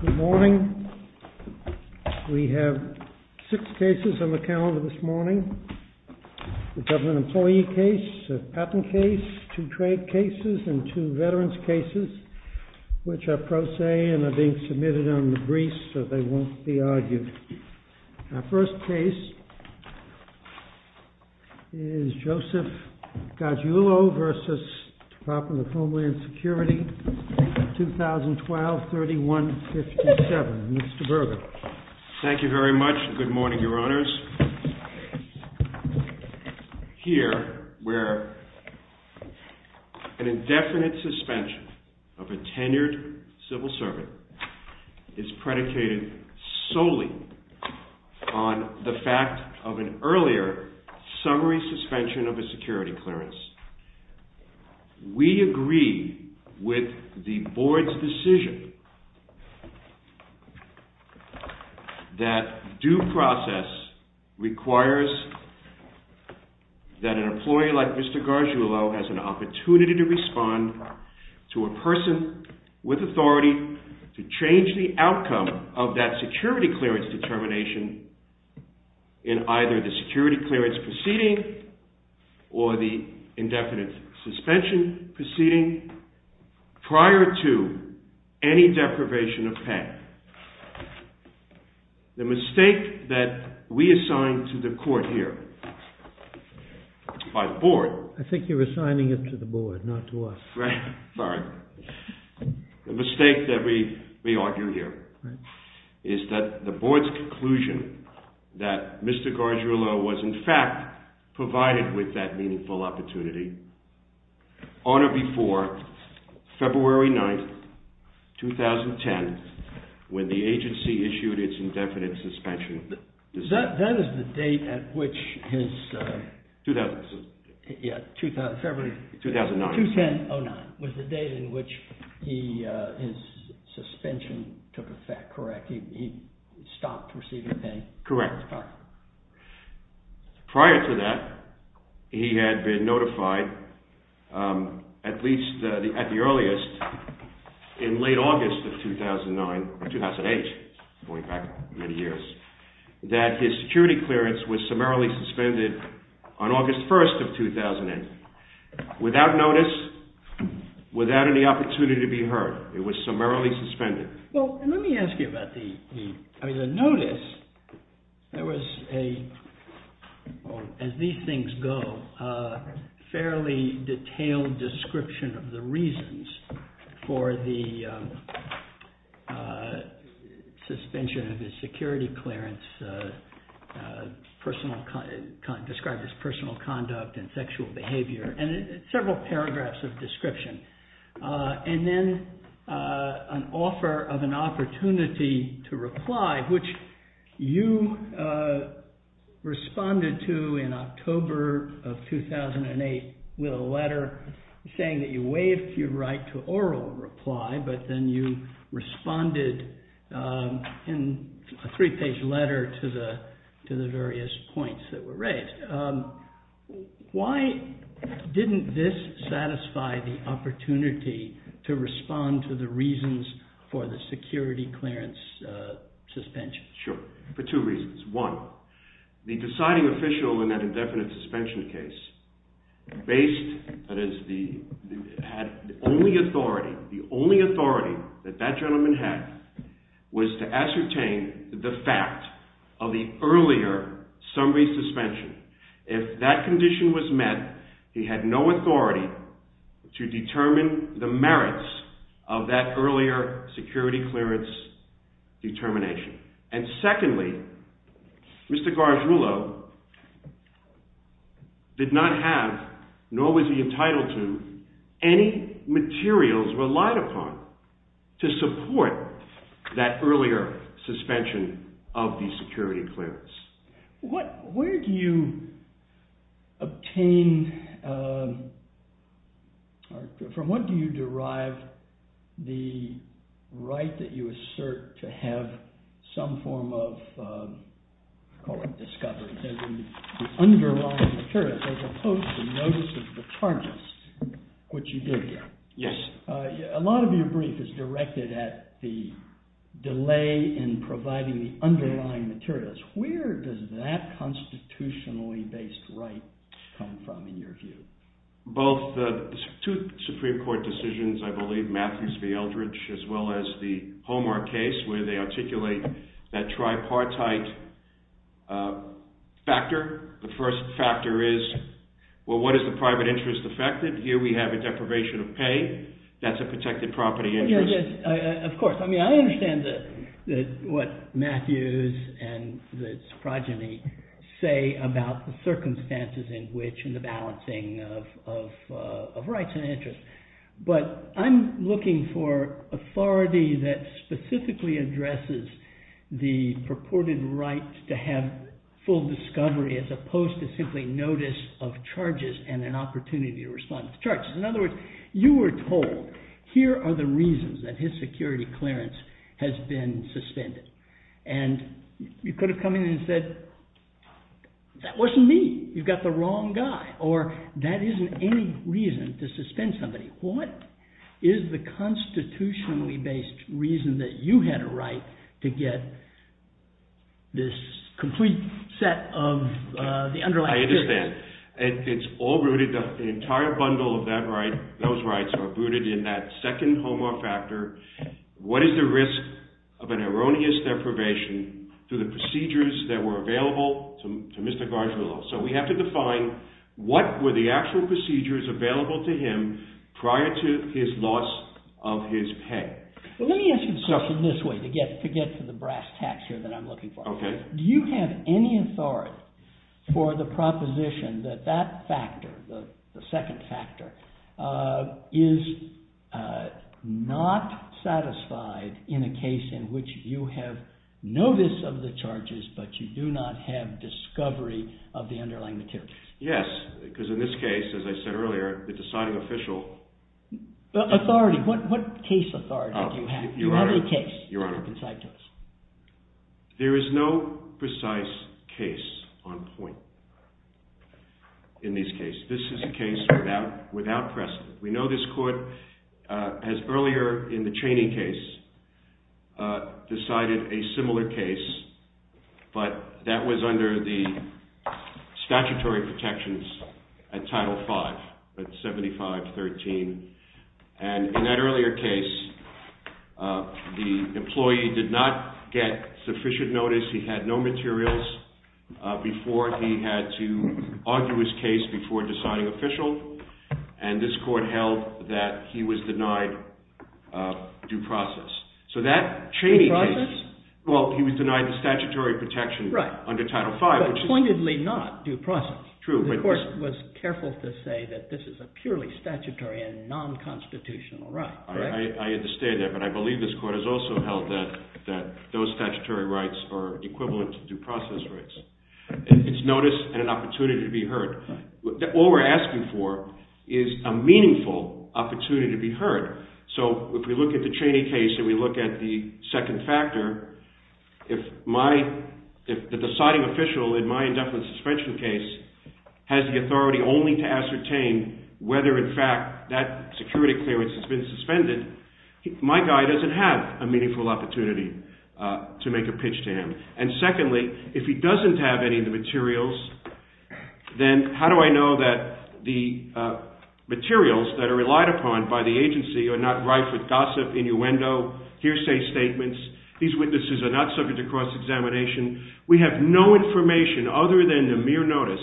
Good morning. We have six cases on the calendar this morning. A government employee case, a patent case, two trade cases, and two veterans' cases, which are pro se and are being submitted on the briefs, so they won't be argued. Our first case is Joseph Gargiulo v. Department of Homeland Security, 2012-3157. Mr. Berger. Thank you very much, and good morning, Your Honors. Here, where an indefinite suspension of a tenured civil servant is predicated solely on the fact of an earlier summary suspension of a security clearance, we agree with the Board's decision that due process requires that an employee like Mr. Gargiulo has an opportunity to respond to a person with authority to change the outcome of that security clearance determination in either the security clearance proceeding or the indefinite suspension proceeding prior to any deprivation of patent. The mistake that we assign to the Court here by the Board... I think you're assigning it to the Board, not to us. Right. Sorry. The mistake that we argue here is that the Board's conclusion that Mr. Gargiulo was, in fact, provided with that meaningful opportunity on or before February 9th, 2010, when the agency issued its indefinite suspension... That is the date at which his... 2000... Yeah, February... 2009. 2010-09 was the date in which his suspension took effect, correct? He stopped receiving pay? Correct. Prior to that, he had been notified, at least at the earliest, in late August of 2008, going back many years, that his security clearance was summarily suspended on August 1st of 2008, without notice, without any opportunity to be heard. It was summarily suspended. Well, let me ask you about the... I mean, the notice, there was a, as these things go, a fairly detailed description of the reasons for the suspension of his security clearance, described as personal conduct and sexual behavior, and several paragraphs of description. And then an offer of an opportunity to reply, which you responded to in October of 2008 with a letter saying that you waived your right to oral reply, but then you responded in a three-page letter to the various points that were raised. Why didn't this satisfy the opportunity to respond to the reasons for the security clearance suspension? Sure. For two reasons. One, the deciding official in that indefinite suspension case based... had only authority, the only authority that that gentleman had was to ascertain the fact of the earlier summary suspension. If that condition was met, he had no authority to determine the merits of that earlier security clearance determination. And secondly, Mr. Gargiulo did not have, nor was he entitled to, any materials relied upon to support that earlier suspension of the security clearance. Where do you obtain... from what do you derive the right that you assert to have some form of, I call it discovery, the underlying materials, as opposed to notice of the charges, which you did? Yes. A lot of your brief is directed at the delay in providing the underlying materials. Where does that constitutionally-based right come from, in your view? Both the two Supreme Court decisions, I believe, Matthews v. Eldridge, as well as the Homer case, where they articulate that tripartite factor. The first factor is, well, what is the private interest affected? Here we have a deprivation of pay. That's a protected property interest. Of course. I mean, I understand what Matthews and his progeny say about the circumstances in which, of rights and interests. But I'm looking for authority that specifically addresses the purported right to have full discovery, as opposed to simply notice of charges and an opportunity to respond to charges. In other words, you were told, here are the reasons that his security clearance has been suspended. And you could have come in and said, that wasn't me. You've got the wrong guy. Or, that isn't any reason to suspend somebody. What is the constitutionally-based reason that you had a right to get this complete set of the underlying material? I understand. It's all rooted, the entire bundle of that right, those rights are rooted in that second Homer factor. What is the risk of an erroneous deprivation to the procedures that were available to Mr. Gargiulo? So we have to define, what were the actual procedures available to him prior to his loss of his pay? Let me ask you a question this way, to get to the brass tacks here that I'm looking for. Do you have any authority for the proposition that that factor, the second factor, is not satisfied in a case in which you have notice of the charges, but you do not have discovery of the underlying material? Yes, because in this case, as I said earlier, the deciding official… Authority. What case authority do you have? Do you have any case to concite to us? There is no precise case on point in this case. This is a case without precedent. We know this court, as earlier in the Chaney case, decided a similar case, but that was under the statutory protections at Title V, at 7513. And in that earlier case, the employee did not get sufficient notice. He had no materials before he had to argue his case before deciding official. And this court held that he was denied due process. Due process? Well, he was denied the statutory protection under Title V. But pointedly not due process. The court was careful to say that this is a purely statutory and non-constitutional right. I understand that, but I believe this court has also held that those statutory rights are equivalent to due process rights. It's notice and an opportunity to be heard. All we're asking for is a meaningful opportunity to be heard. So, if we look at the Chaney case and we look at the second factor, if the deciding official in my indefinite suspension case has the authority only to ascertain whether, in fact, that security clearance has been suspended, my guy doesn't have a meaningful opportunity to make a pitch to him. And secondly, if he doesn't have any of the materials, then how do I know that the materials that are relied upon by the agency are not rife with gossip, innuendo, hearsay statements? These witnesses are not subject to cross-examination. We have no information other than the mere notice,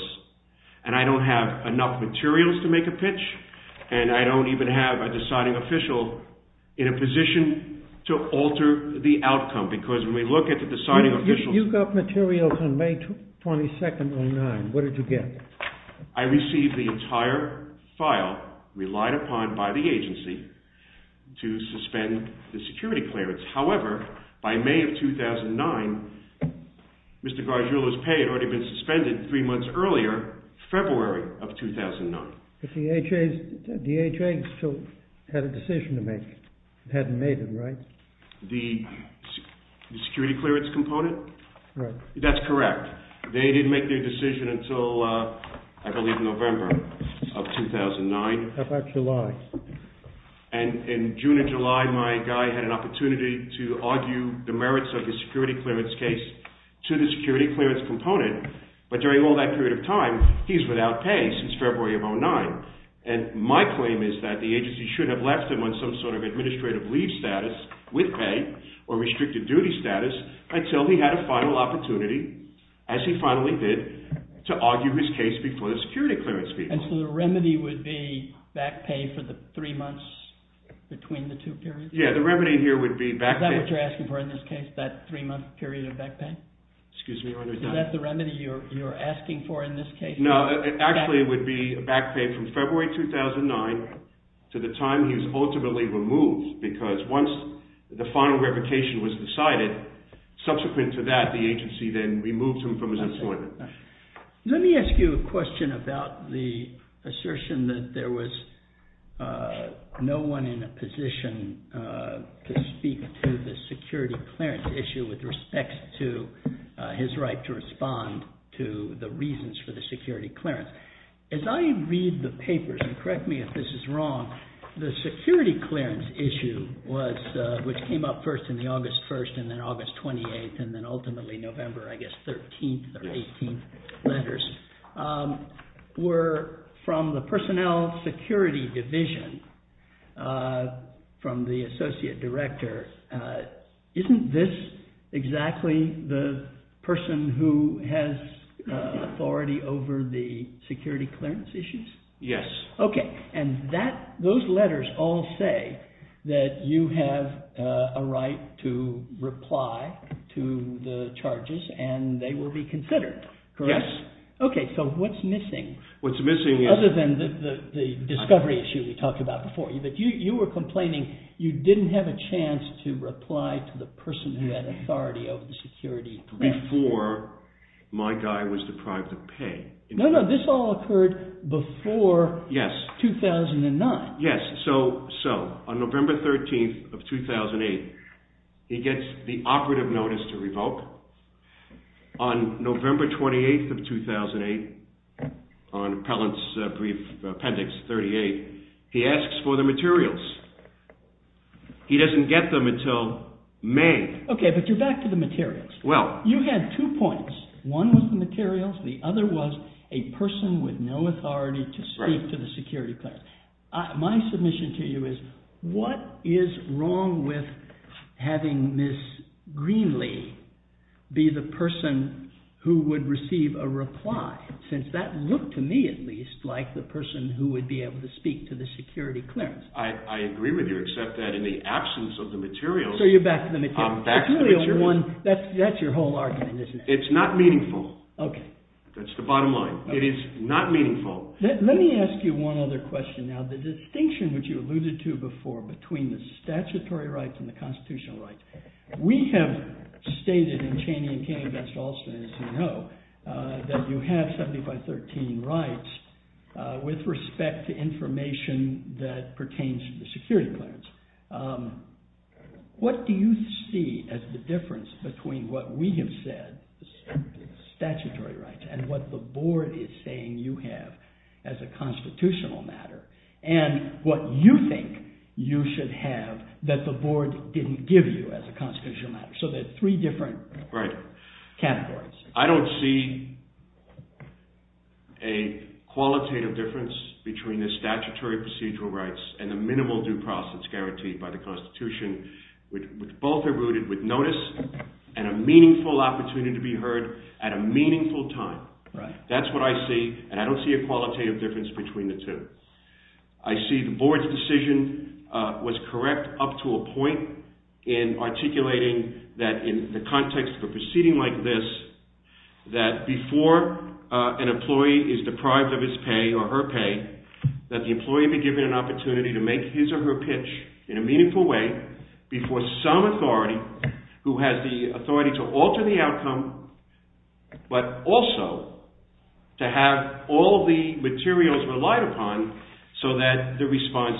and I don't have enough materials to make a pitch, and I don't even have a deciding official in a position to alter the outcome. You got materials on May 22, 2009. What did you get? I received the entire file relied upon by the agency to suspend the security clearance. However, by May of 2009, Mr. Gargiulo's pay had already been suspended three months earlier, February of 2009. The DHA still had a decision to make. It hadn't made it, right? The security clearance component? Right. That's correct. They didn't make their decision until, I believe, November of 2009. How about July? In June and July, my guy had an opportunity to argue the merits of his security clearance case to the security clearance component, but during all that period of time, he's without pay since February of 2009. And my claim is that the agency should have left him on some sort of administrative leave status with pay or restricted duty status until he had a final opportunity, as he finally did, to argue his case before the security clearance people. And so the remedy would be back pay for the three months between the two periods? Yeah, the remedy here would be back pay. Is that what you're asking for in this case, that three-month period of back pay? Excuse me? Is that the remedy you're asking for in this case? No, actually it would be back pay from February 2009 to the time he was ultimately removed, because once the final revocation was decided, subsequent to that, the agency then removed him from his employment. Let me ask you a question about the assertion that there was no one in a position to speak to the security clearance issue with respect to his right to respond to the reasons for the security clearance. As I read the papers, and correct me if this is wrong, the security clearance issue, which came up first in the August 1st, and then August 28th, and then ultimately November, I guess, 13th or 18th letters, were from the personnel security division from the associate director. Isn't this exactly the person who has authority over the security clearance issues? Yes. Okay, and those letters all say that you have a right to reply to the charges, and they will be considered, correct? Yes. Okay, so what's missing? What's missing is… He didn't have a chance to reply to the person who had authority over the security clearance. Before my guy was deprived of pay. No, no, this all occurred before 2009. So, on November 13th of 2008, he gets the operative notice to revoke. On November 28th of 2008, on Appellant's brief appendix 38, he asks for the materials. He doesn't get them until May. Okay, but you're back to the materials. Well… You had two points. One was the materials, the other was a person with no authority to speak to the security clearance. My submission to you is, what is wrong with having Ms. Greenlee be the person who would receive a reply? Since that looked to me, at least, like the person who would be able to speak to the security clearance. I agree with you, except that in the absence of the materials… So, you're back to the materials. I'm back to the materials. That's your whole argument, isn't it? It's not meaningful. Okay. That's the bottom line. It is not meaningful. Let me ask you one other question. Now, the distinction which you alluded to before between the statutory rights and the constitutional rights, we have stated in Cheney v. Alston, as you know, that you have 7513 rights with respect to information that pertains to the security clearance. What do you see as the difference between what we have said, statutory rights, and what the board is saying you have as a constitutional matter, and what you think you should have that the board didn't give you as a constitutional matter? So, there are three different categories. I don't see a qualitative difference between the statutory procedural rights and the minimal due process guaranteed by the Constitution, which both are rooted with notice and a meaningful opportunity to be heard at a meaningful time. That's what I see, and I don't see a qualitative difference between the two. I see the board's decision was correct up to a point in articulating that in the context of a proceeding like this, that before an employee is deprived of his pay or her pay, that the employee be given an opportunity to make his or her pitch in a meaningful way before some authority who has the authority to alter the outcome, but also to have all the materials relied upon so that the response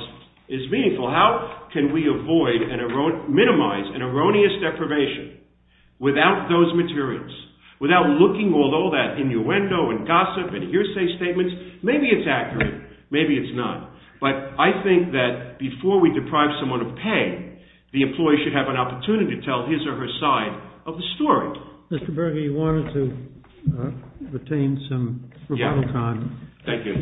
is meaningful. How can we avoid and minimize an erroneous deprivation without those materials, without looking at all that innuendo and gossip and hearsay statements? Maybe it's accurate, maybe it's not. But I think that before we deprive someone of pay, the employee should have an opportunity to tell his or her side of the story. Mr. Berger, you wanted to retain some rebuttal time. Thank you.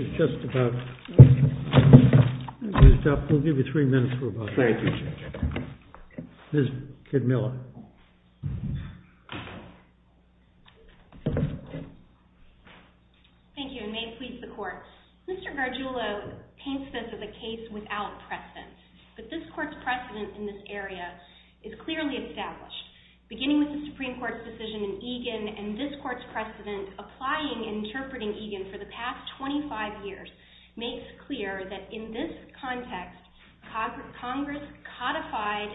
We'll give you three minutes for rebuttal. Thank you, Mr. Chairman. Ms. Kidmiller. Thank you, and may it please the Court. Mr. Gargiulo paints this as a case without precedent, but this Court's precedent in this area is clearly established. Beginning with the Supreme Court's decision in Egan, and this Court's precedent applying and interpreting Egan for the past 25 years makes clear that in this context, Congress codified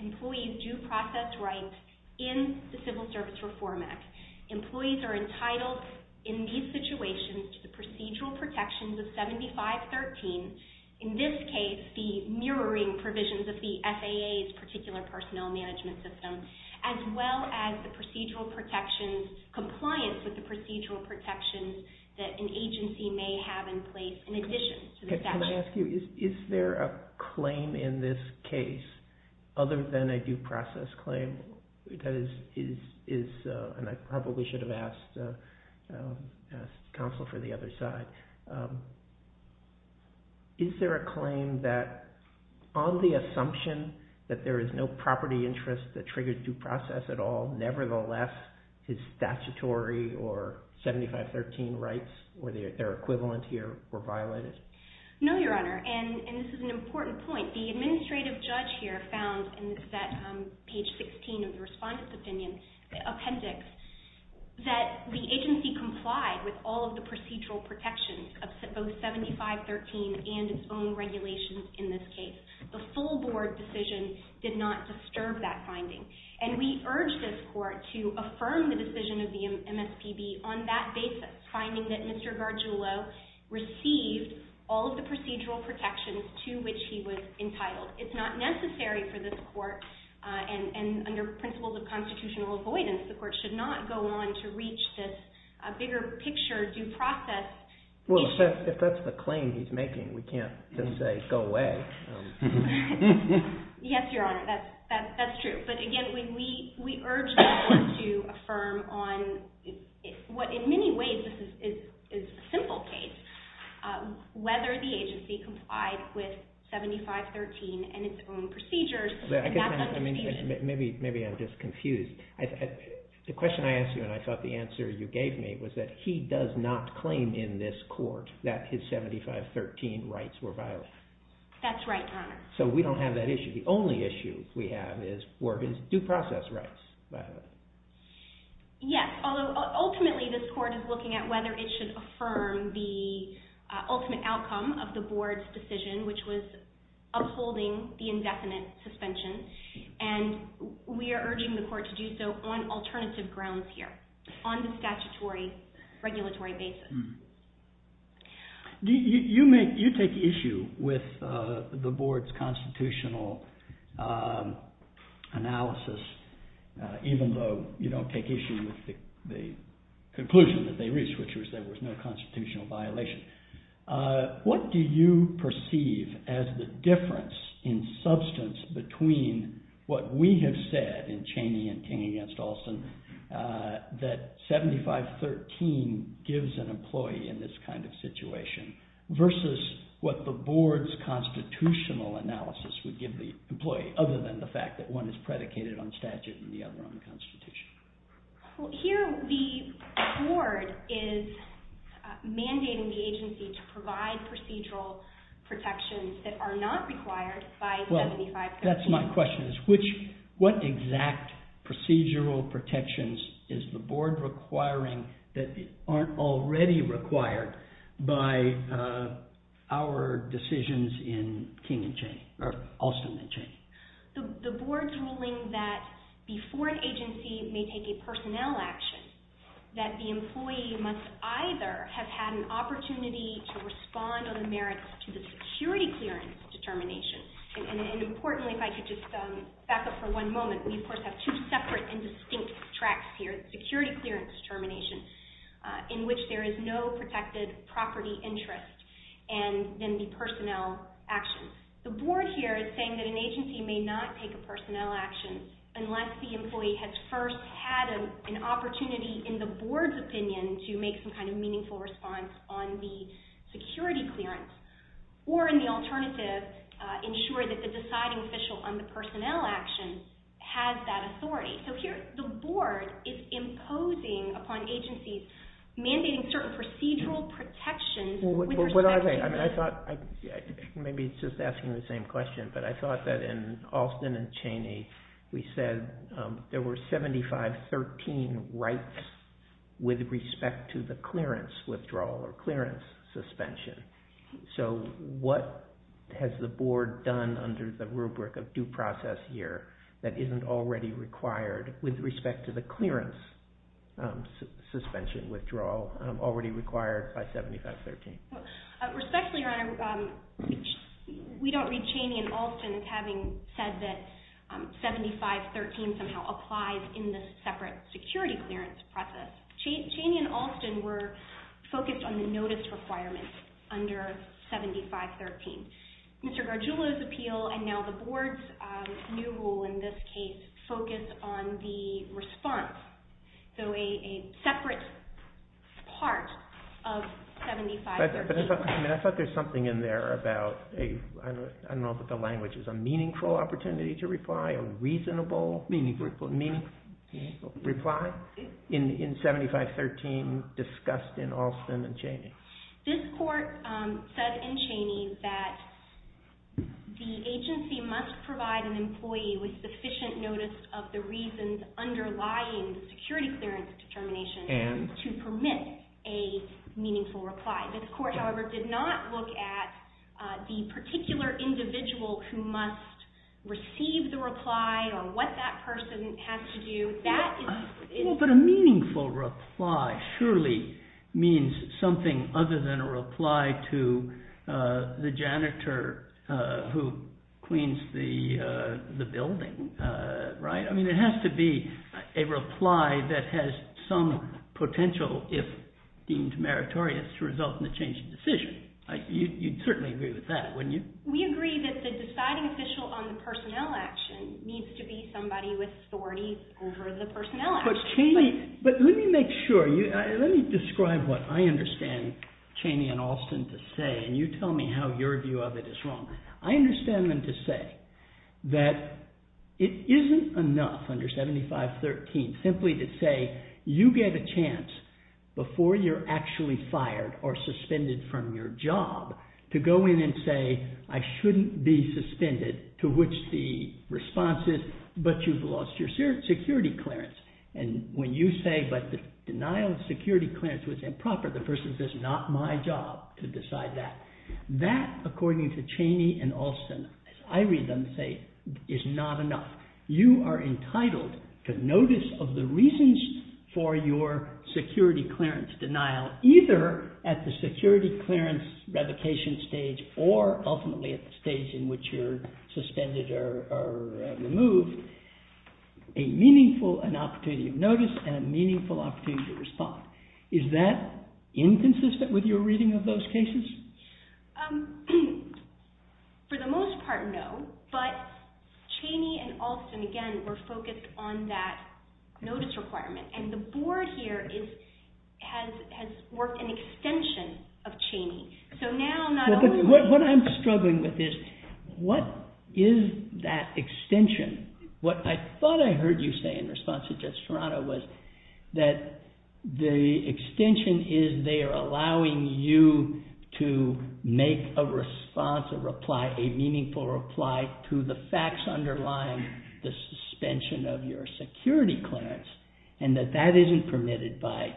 employees' due process rights in the Civil Service Reform Act. Employees are entitled in these situations to the procedural protections of 7513, in this case the mirroring provisions of the FAA's particular personnel management system, as well as the procedural protections, compliance with the procedural protections that an agency may have in place in addition to the statute. Can I ask you, is there a claim in this case, other than a due process claim, that is, and I probably should have asked counsel for the other side, is there a claim that on the assumption that there is no property interest that triggered due process at all, nevertheless his statutory or 7513 rights, or their equivalent here, were violated? No, Your Honor, and this is an important point. The administrative judge here found, and this is at page 16 of the Respondent's Opinion Appendix, that the agency complied with all of the procedural protections of both 7513 and its own regulations in this case. The full board decision did not disturb that finding, and we urge this Court to affirm the decision of the MSPB on that basis, finding that Mr. Gargiulo received all of the procedural protections to which he was entitled. It's not necessary for this Court, and under principles of constitutional avoidance, the Court should not go on to reach this bigger picture due process issue. Well, if that's the claim he's making, we can't just say, go away. Yes, Your Honor, that's true. But again, we urge this Court to affirm on what in many ways is a simple case, whether the agency complied with 7513 and its own procedures. Maybe I'm just confused. The question I asked you and I thought the answer you gave me was that he does not claim in this court that his 7513 rights were violated. That's right, Your Honor. So we don't have that issue. The only issue we have is Worgen's due process rights violated. Yes, although ultimately this Court is looking at whether it should affirm the ultimate outcome of the board's decision, which was upholding the indefinite suspension, and we are urging the Court to do so on alternative grounds here, on the statutory regulatory basis. You take issue with the board's constitutional analysis, even though you don't take issue with the conclusion that they reached, which was there was no constitutional violation. What do you perceive as the difference in substance between what we have said in Cheney v. King v. Olson, that 7513 gives an employee in this kind of situation, versus what the board's constitutional analysis would give the employee, other than the fact that one is predicated on statute and the other on the Constitution? Well, here the board is mandating the agency to provide procedural protections that are not required by 7513. That's my question. What exact procedural protections is the board requiring that aren't already required by our decisions in Olson v. Cheney? The board's ruling that before an agency may take a personnel action, that the employee must either have had an opportunity to respond on the merits to the security clearance determination, and importantly, if I could just back up for one moment, we of course have two separate and distinct tracks here, the security clearance determination, in which there is no protected property interest, and then the personnel action. The board here is saying that an agency may not take a personnel action unless the employee has first had an opportunity in the board's opinion to make some kind of meaningful response on the security clearance, or in the alternative, ensure that the deciding official on the personnel action has that authority. So here the board is imposing upon agencies, mandating certain procedural protections. What I think, maybe it's just asking the same question, but I thought that in Olson v. Cheney we said there were 7513 rights with respect to the clearance withdrawal or clearance suspension. So what has the board done under the rubric of due process here that isn't already required with respect to the clearance suspension withdrawal already required by 7513? Respectfully, Your Honor, we don't read Cheney and Olson as having said that 7513 somehow applies in the separate security clearance process. Cheney and Olson were focused on the notice requirements under 7513. Mr. Gargiulo's appeal, and now the board's new rule in this case, focused on the response. So a separate part of 7513. I thought there was something in there about, I don't know if it's the language, a meaningful opportunity to reply, a reasonable reply in 7513 discussed in Olson and Cheney. This court said in Cheney that the agency must provide an employee with sufficient notice of the reasons underlying the security clearance determination to permit a meaningful reply. This court, however, did not look at the particular individual who must receive the reply or what that person has to do. But a meaningful reply surely means something other than a reply to the janitor who cleans the building, right? I mean, it has to be a reply that has some potential if deemed meritorious to result in the change of decision. You'd certainly agree with that, wouldn't you? We agree that the deciding official on the personnel action needs to be somebody with authority over the personnel action. But Cheney, let me make sure, let me describe what I understand Cheney and Olson to say, and you tell me how your view of it is wrong. I understand them to say that it isn't enough under 7513 simply to say you get a chance before you're actually fired or suspended from your job to go in and say, I shouldn't be suspended, to which the response is, but you've lost your security clearance. And when you say, but the denial of security clearance was improper, the person says, not my job to decide that. That, according to Cheney and Olson, as I read them, say is not enough. You are entitled to notice of the reasons for your security clearance denial, either at the security clearance revocation stage or ultimately at the stage in which you're suspended or removed, a meaningful opportunity of notice and a meaningful opportunity to respond. Is that inconsistent with your reading of those cases? For the most part, no, but Cheney and Olson, again, were focused on that notice requirement. And the board here has worked an extension of Cheney. What I'm struggling with is, what is that extension? What I thought I heard you say in response to Judge Serrano was that the extension is they are allowing you to make a response, a reply, a meaningful reply, to the facts underlying the suspension of your security clearance and that that isn't permitted by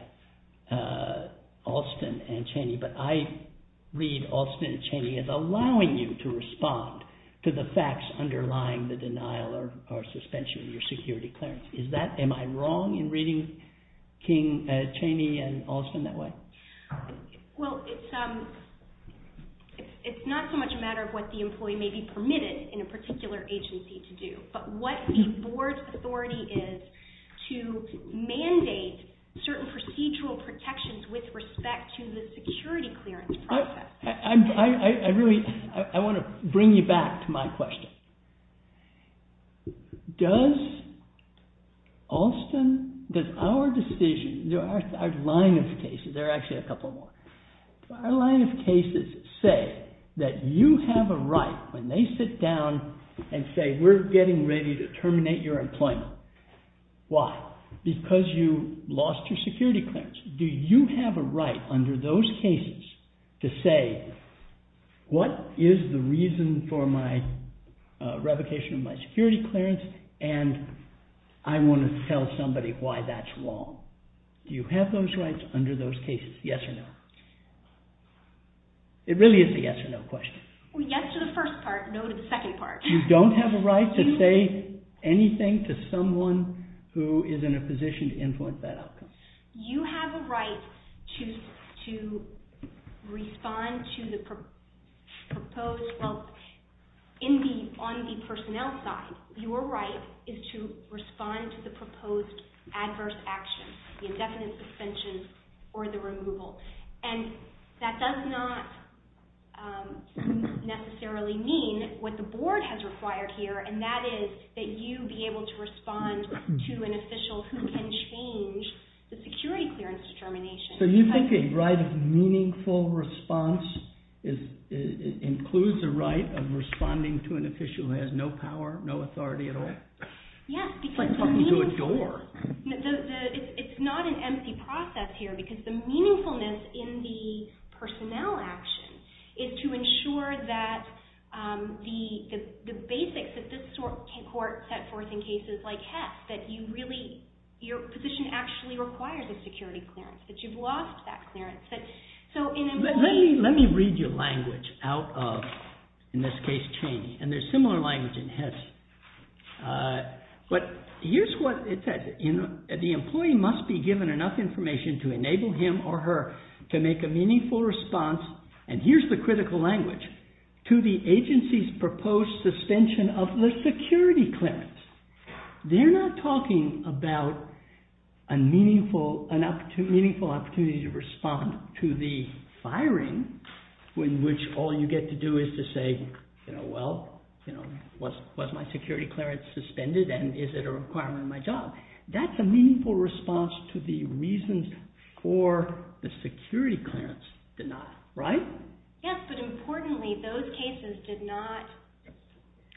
Olson and Cheney. But I read Olson and Cheney as allowing you to respond to the facts underlying the denial or suspension of your security clearance. Am I wrong in reading Cheney and Olson that way? Well, it's not so much a matter of what the employee may be permitted in a particular agency to do, but what the board's authority is to mandate certain procedural protections with respect to the security clearance process. I want to bring you back to my question. Does Olson, does our decision, our line of cases, there are actually a couple more, our line of cases say that you have a right when they sit down and say, we're getting ready to terminate your employment. Why? Because you lost your security clearance. Do you have a right under those cases to say, what is the reason for my revocation of my security clearance and I want to tell somebody why that's wrong? Do you have those rights under those cases, yes or no? It really is a yes or no question. Yes to the first part, no to the second part. You don't have a right to say anything to someone who is in a position to influence that outcome. You have a right to respond to the proposed, well, on the personnel side, your right is to respond to the proposed adverse action, the indefinite suspension or the removal. And that does not necessarily mean what the board has required here, and that is that you be able to respond to an official who can change the security clearance determination. So you think a right of meaningful response includes a right of responding to an official who has no power, no authority at all? Yes. It's like talking to a door. It's not an empty process here because the meaningfulness in the personnel action is to ensure that the basics that this court set forth in cases like Hess, that your position actually requires a security clearance, that you've lost that clearance. Let me read your language out of, in this case, Cheney, and there's similar language in Hess. But here's what it says. The employee must be given enough information to enable him or her to make a meaningful response, and here's the critical language, to the agency's proposed suspension of the security clearance. They're not talking about a meaningful opportunity to respond to the firing in which all you get to do is to say, you know, well, was my security clearance suspended and is it a requirement of my job? That's a meaningful response to the reasons for the security clearance denial, right? Yes, but importantly, those cases did not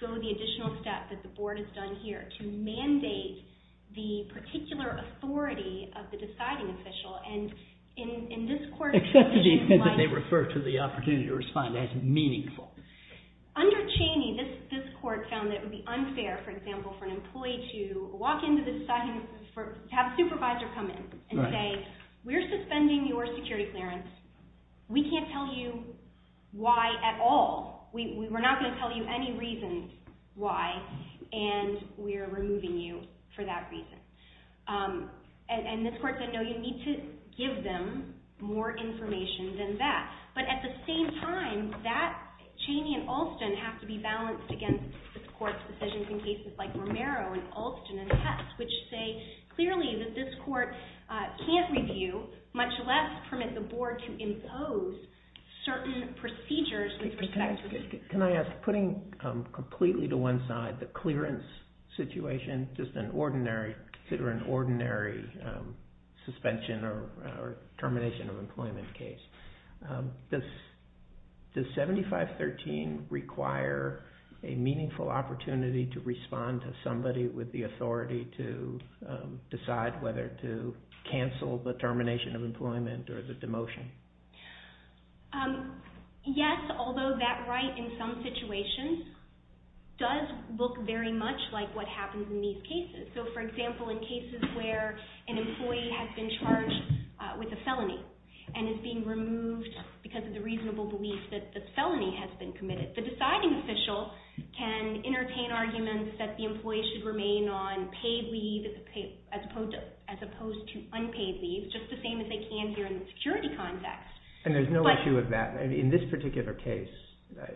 go the additional step that the board has done here to mandate the particular authority of the deciding official, and in this court, Except that they refer to the opportunity to respond as meaningful. Under Cheney, this court found that it would be unfair, for example, for an employee to walk into the deciding, to have a supervisor come in and say, We're suspending your security clearance. We can't tell you why at all. We're not going to tell you any reason why, and we're removing you for that reason. And this court said, No, you need to give them more information than that. But at the same time, Cheney and Alston have to be balanced against this court's decisions in cases like Romero and Alston and Hess, which say clearly that this court can't review, much less permit the board to impose certain procedures with respect to security. Can I ask, putting completely to one side the clearance situation, just consider an ordinary suspension or termination of employment case, does 7513 require a meaningful opportunity to respond to somebody with the authority to decide whether to cancel the termination of employment or the demotion? Yes, although that right in some situations does look very much like what happens in these cases. So, for example, in cases where an employee has been charged with a felony and is being removed because of the reasonable belief that the felony has been committed, the deciding official can entertain arguments that the employee should remain on paid leave as opposed to unpaid leave, just the same as they can here in the security context. And there's no issue with that. In this particular case,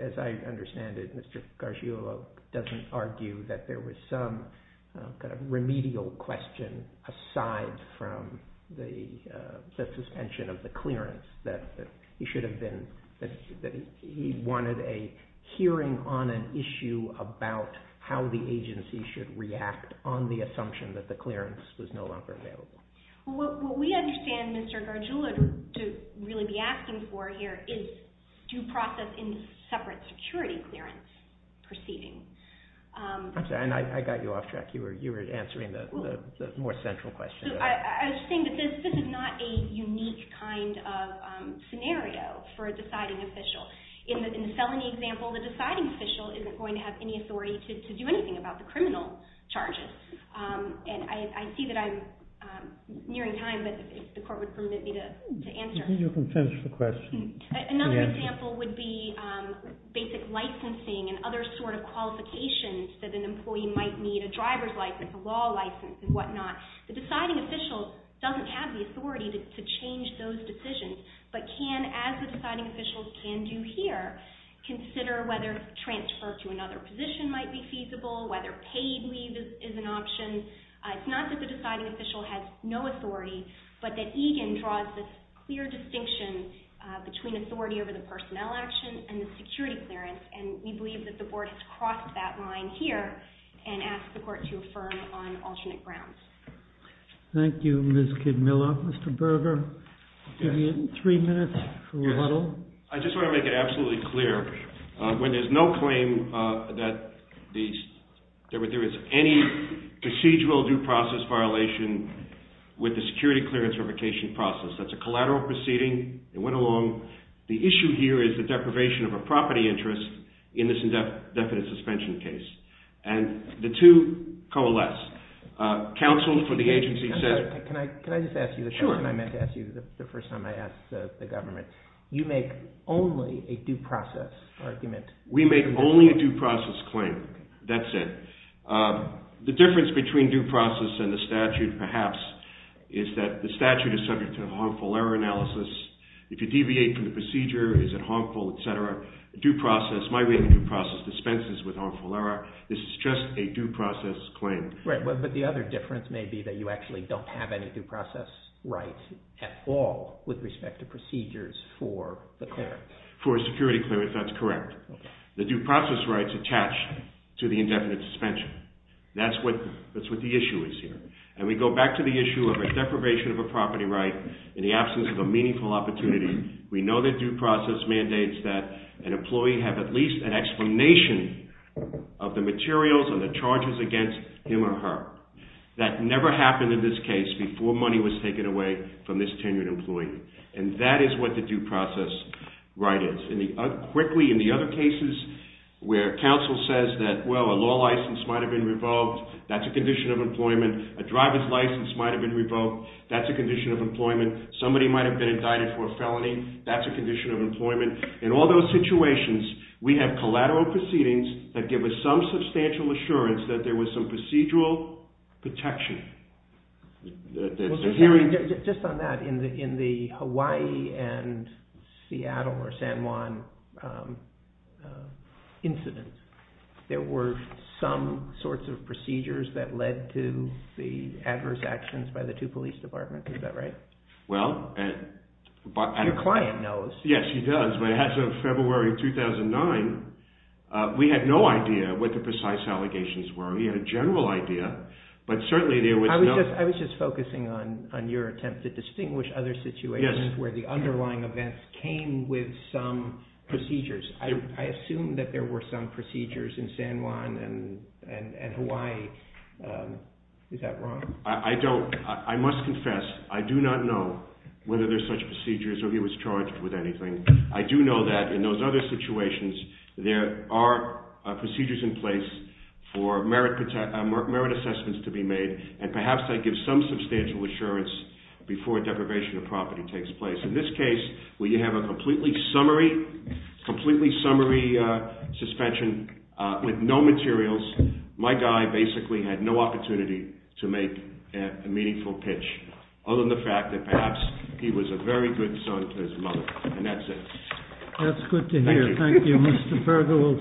as I understand it, Mr. Garciulo doesn't argue that there was some kind of remedial question aside from the suspension of the clearance, that he wanted a hearing on an issue about how the agency should react on the assumption that the clearance was no longer available. What we understand Mr. Garciulo to really be asking for here is due process in separate security clearance proceedings. I'm sorry, I got you off track. You were answering the more central question. I was saying that this is not a unique kind of scenario for a deciding official. In the felony example, the deciding official isn't going to have any authority to do anything about the criminal charges. And I see that I'm nearing time, but if the court would permit me to answer. You can finish the question. Another example would be basic licensing and other sort of qualifications that an employee might need, a driver's license, a law license, and whatnot. The deciding official doesn't have the authority to change those decisions, but can, as the deciding official can do here, consider whether transfer to another position might be feasible, whether paid leave is an option. It's not that the deciding official has no authority, but that EGAN draws this clear distinction between authority over the personnel action and the security clearance, and we believe that the board has crossed that line here and asked the court to affirm on alternate grounds. Thank you, Ms. Kidmiller. Mr. Berger, I'll give you three minutes to rattle. I just want to make it absolutely clear. When there's no claim that there is any procedural due process violation with the security clearance revocation process, that's a collateral proceeding, it went along. The issue here is the deprivation of a property interest in this indefinite suspension case, and the two coalesce. Counsel for the agency says... Can I just ask you the question I meant to ask you the first time I asked the government? You make only a due process argument. We make only a due process claim. That's it. The difference between due process and the statute, perhaps, is that the statute is subject to a harmful error analysis. If you deviate from the procedure, is it harmful, et cetera? My reading, due process dispenses with harmful error. This is just a due process claim. But the other difference may be that you actually don't have any due process rights at all with respect to procedures for the clearance. For a security clearance, that's correct. The due process rights attach to the indefinite suspension. That's what the issue is here. And we go back to the issue of a deprivation of a property right in the absence of a meaningful opportunity. We know that due process mandates that an employee have at least an explanation of the materials and the charges against him or her. That never happened in this case before money was taken away from this tenured employee. And that is what the due process right is. Quickly, in the other cases where counsel says that, well, a law license might have been revoked, that's a condition of employment. A driver's license might have been revoked, that's a condition of employment. Somebody might have been indicted for a felony, that's a condition of employment. In all those situations, we have collateral proceedings that give us some substantial assurance that there was some procedural protection. Just on that, in the Hawaii and Seattle or San Juan incidents, there were some sorts of procedures that led to the adverse actions by the two police departments, is that right? Your client knows. Yes, he does. But as of February 2009, we had no idea what the precise allegations were. We had a general idea. I was just focusing on your attempt to distinguish other situations where the underlying events came with some procedures. I assume that there were some procedures in San Juan and Hawaii. Is that wrong? I must confess, I do not know whether there are such procedures or he was charged with anything. I do know that in those other situations there are procedures in place for merit assessments to be made, and perhaps they give some substantial assurance before deprivation of property takes place. In this case, we have a completely summary suspension with no materials. My guy basically had no opportunity to make a meaningful pitch, other than the fact that perhaps he was a very good son to his mother, and that's it. That's good to hear. Thank you.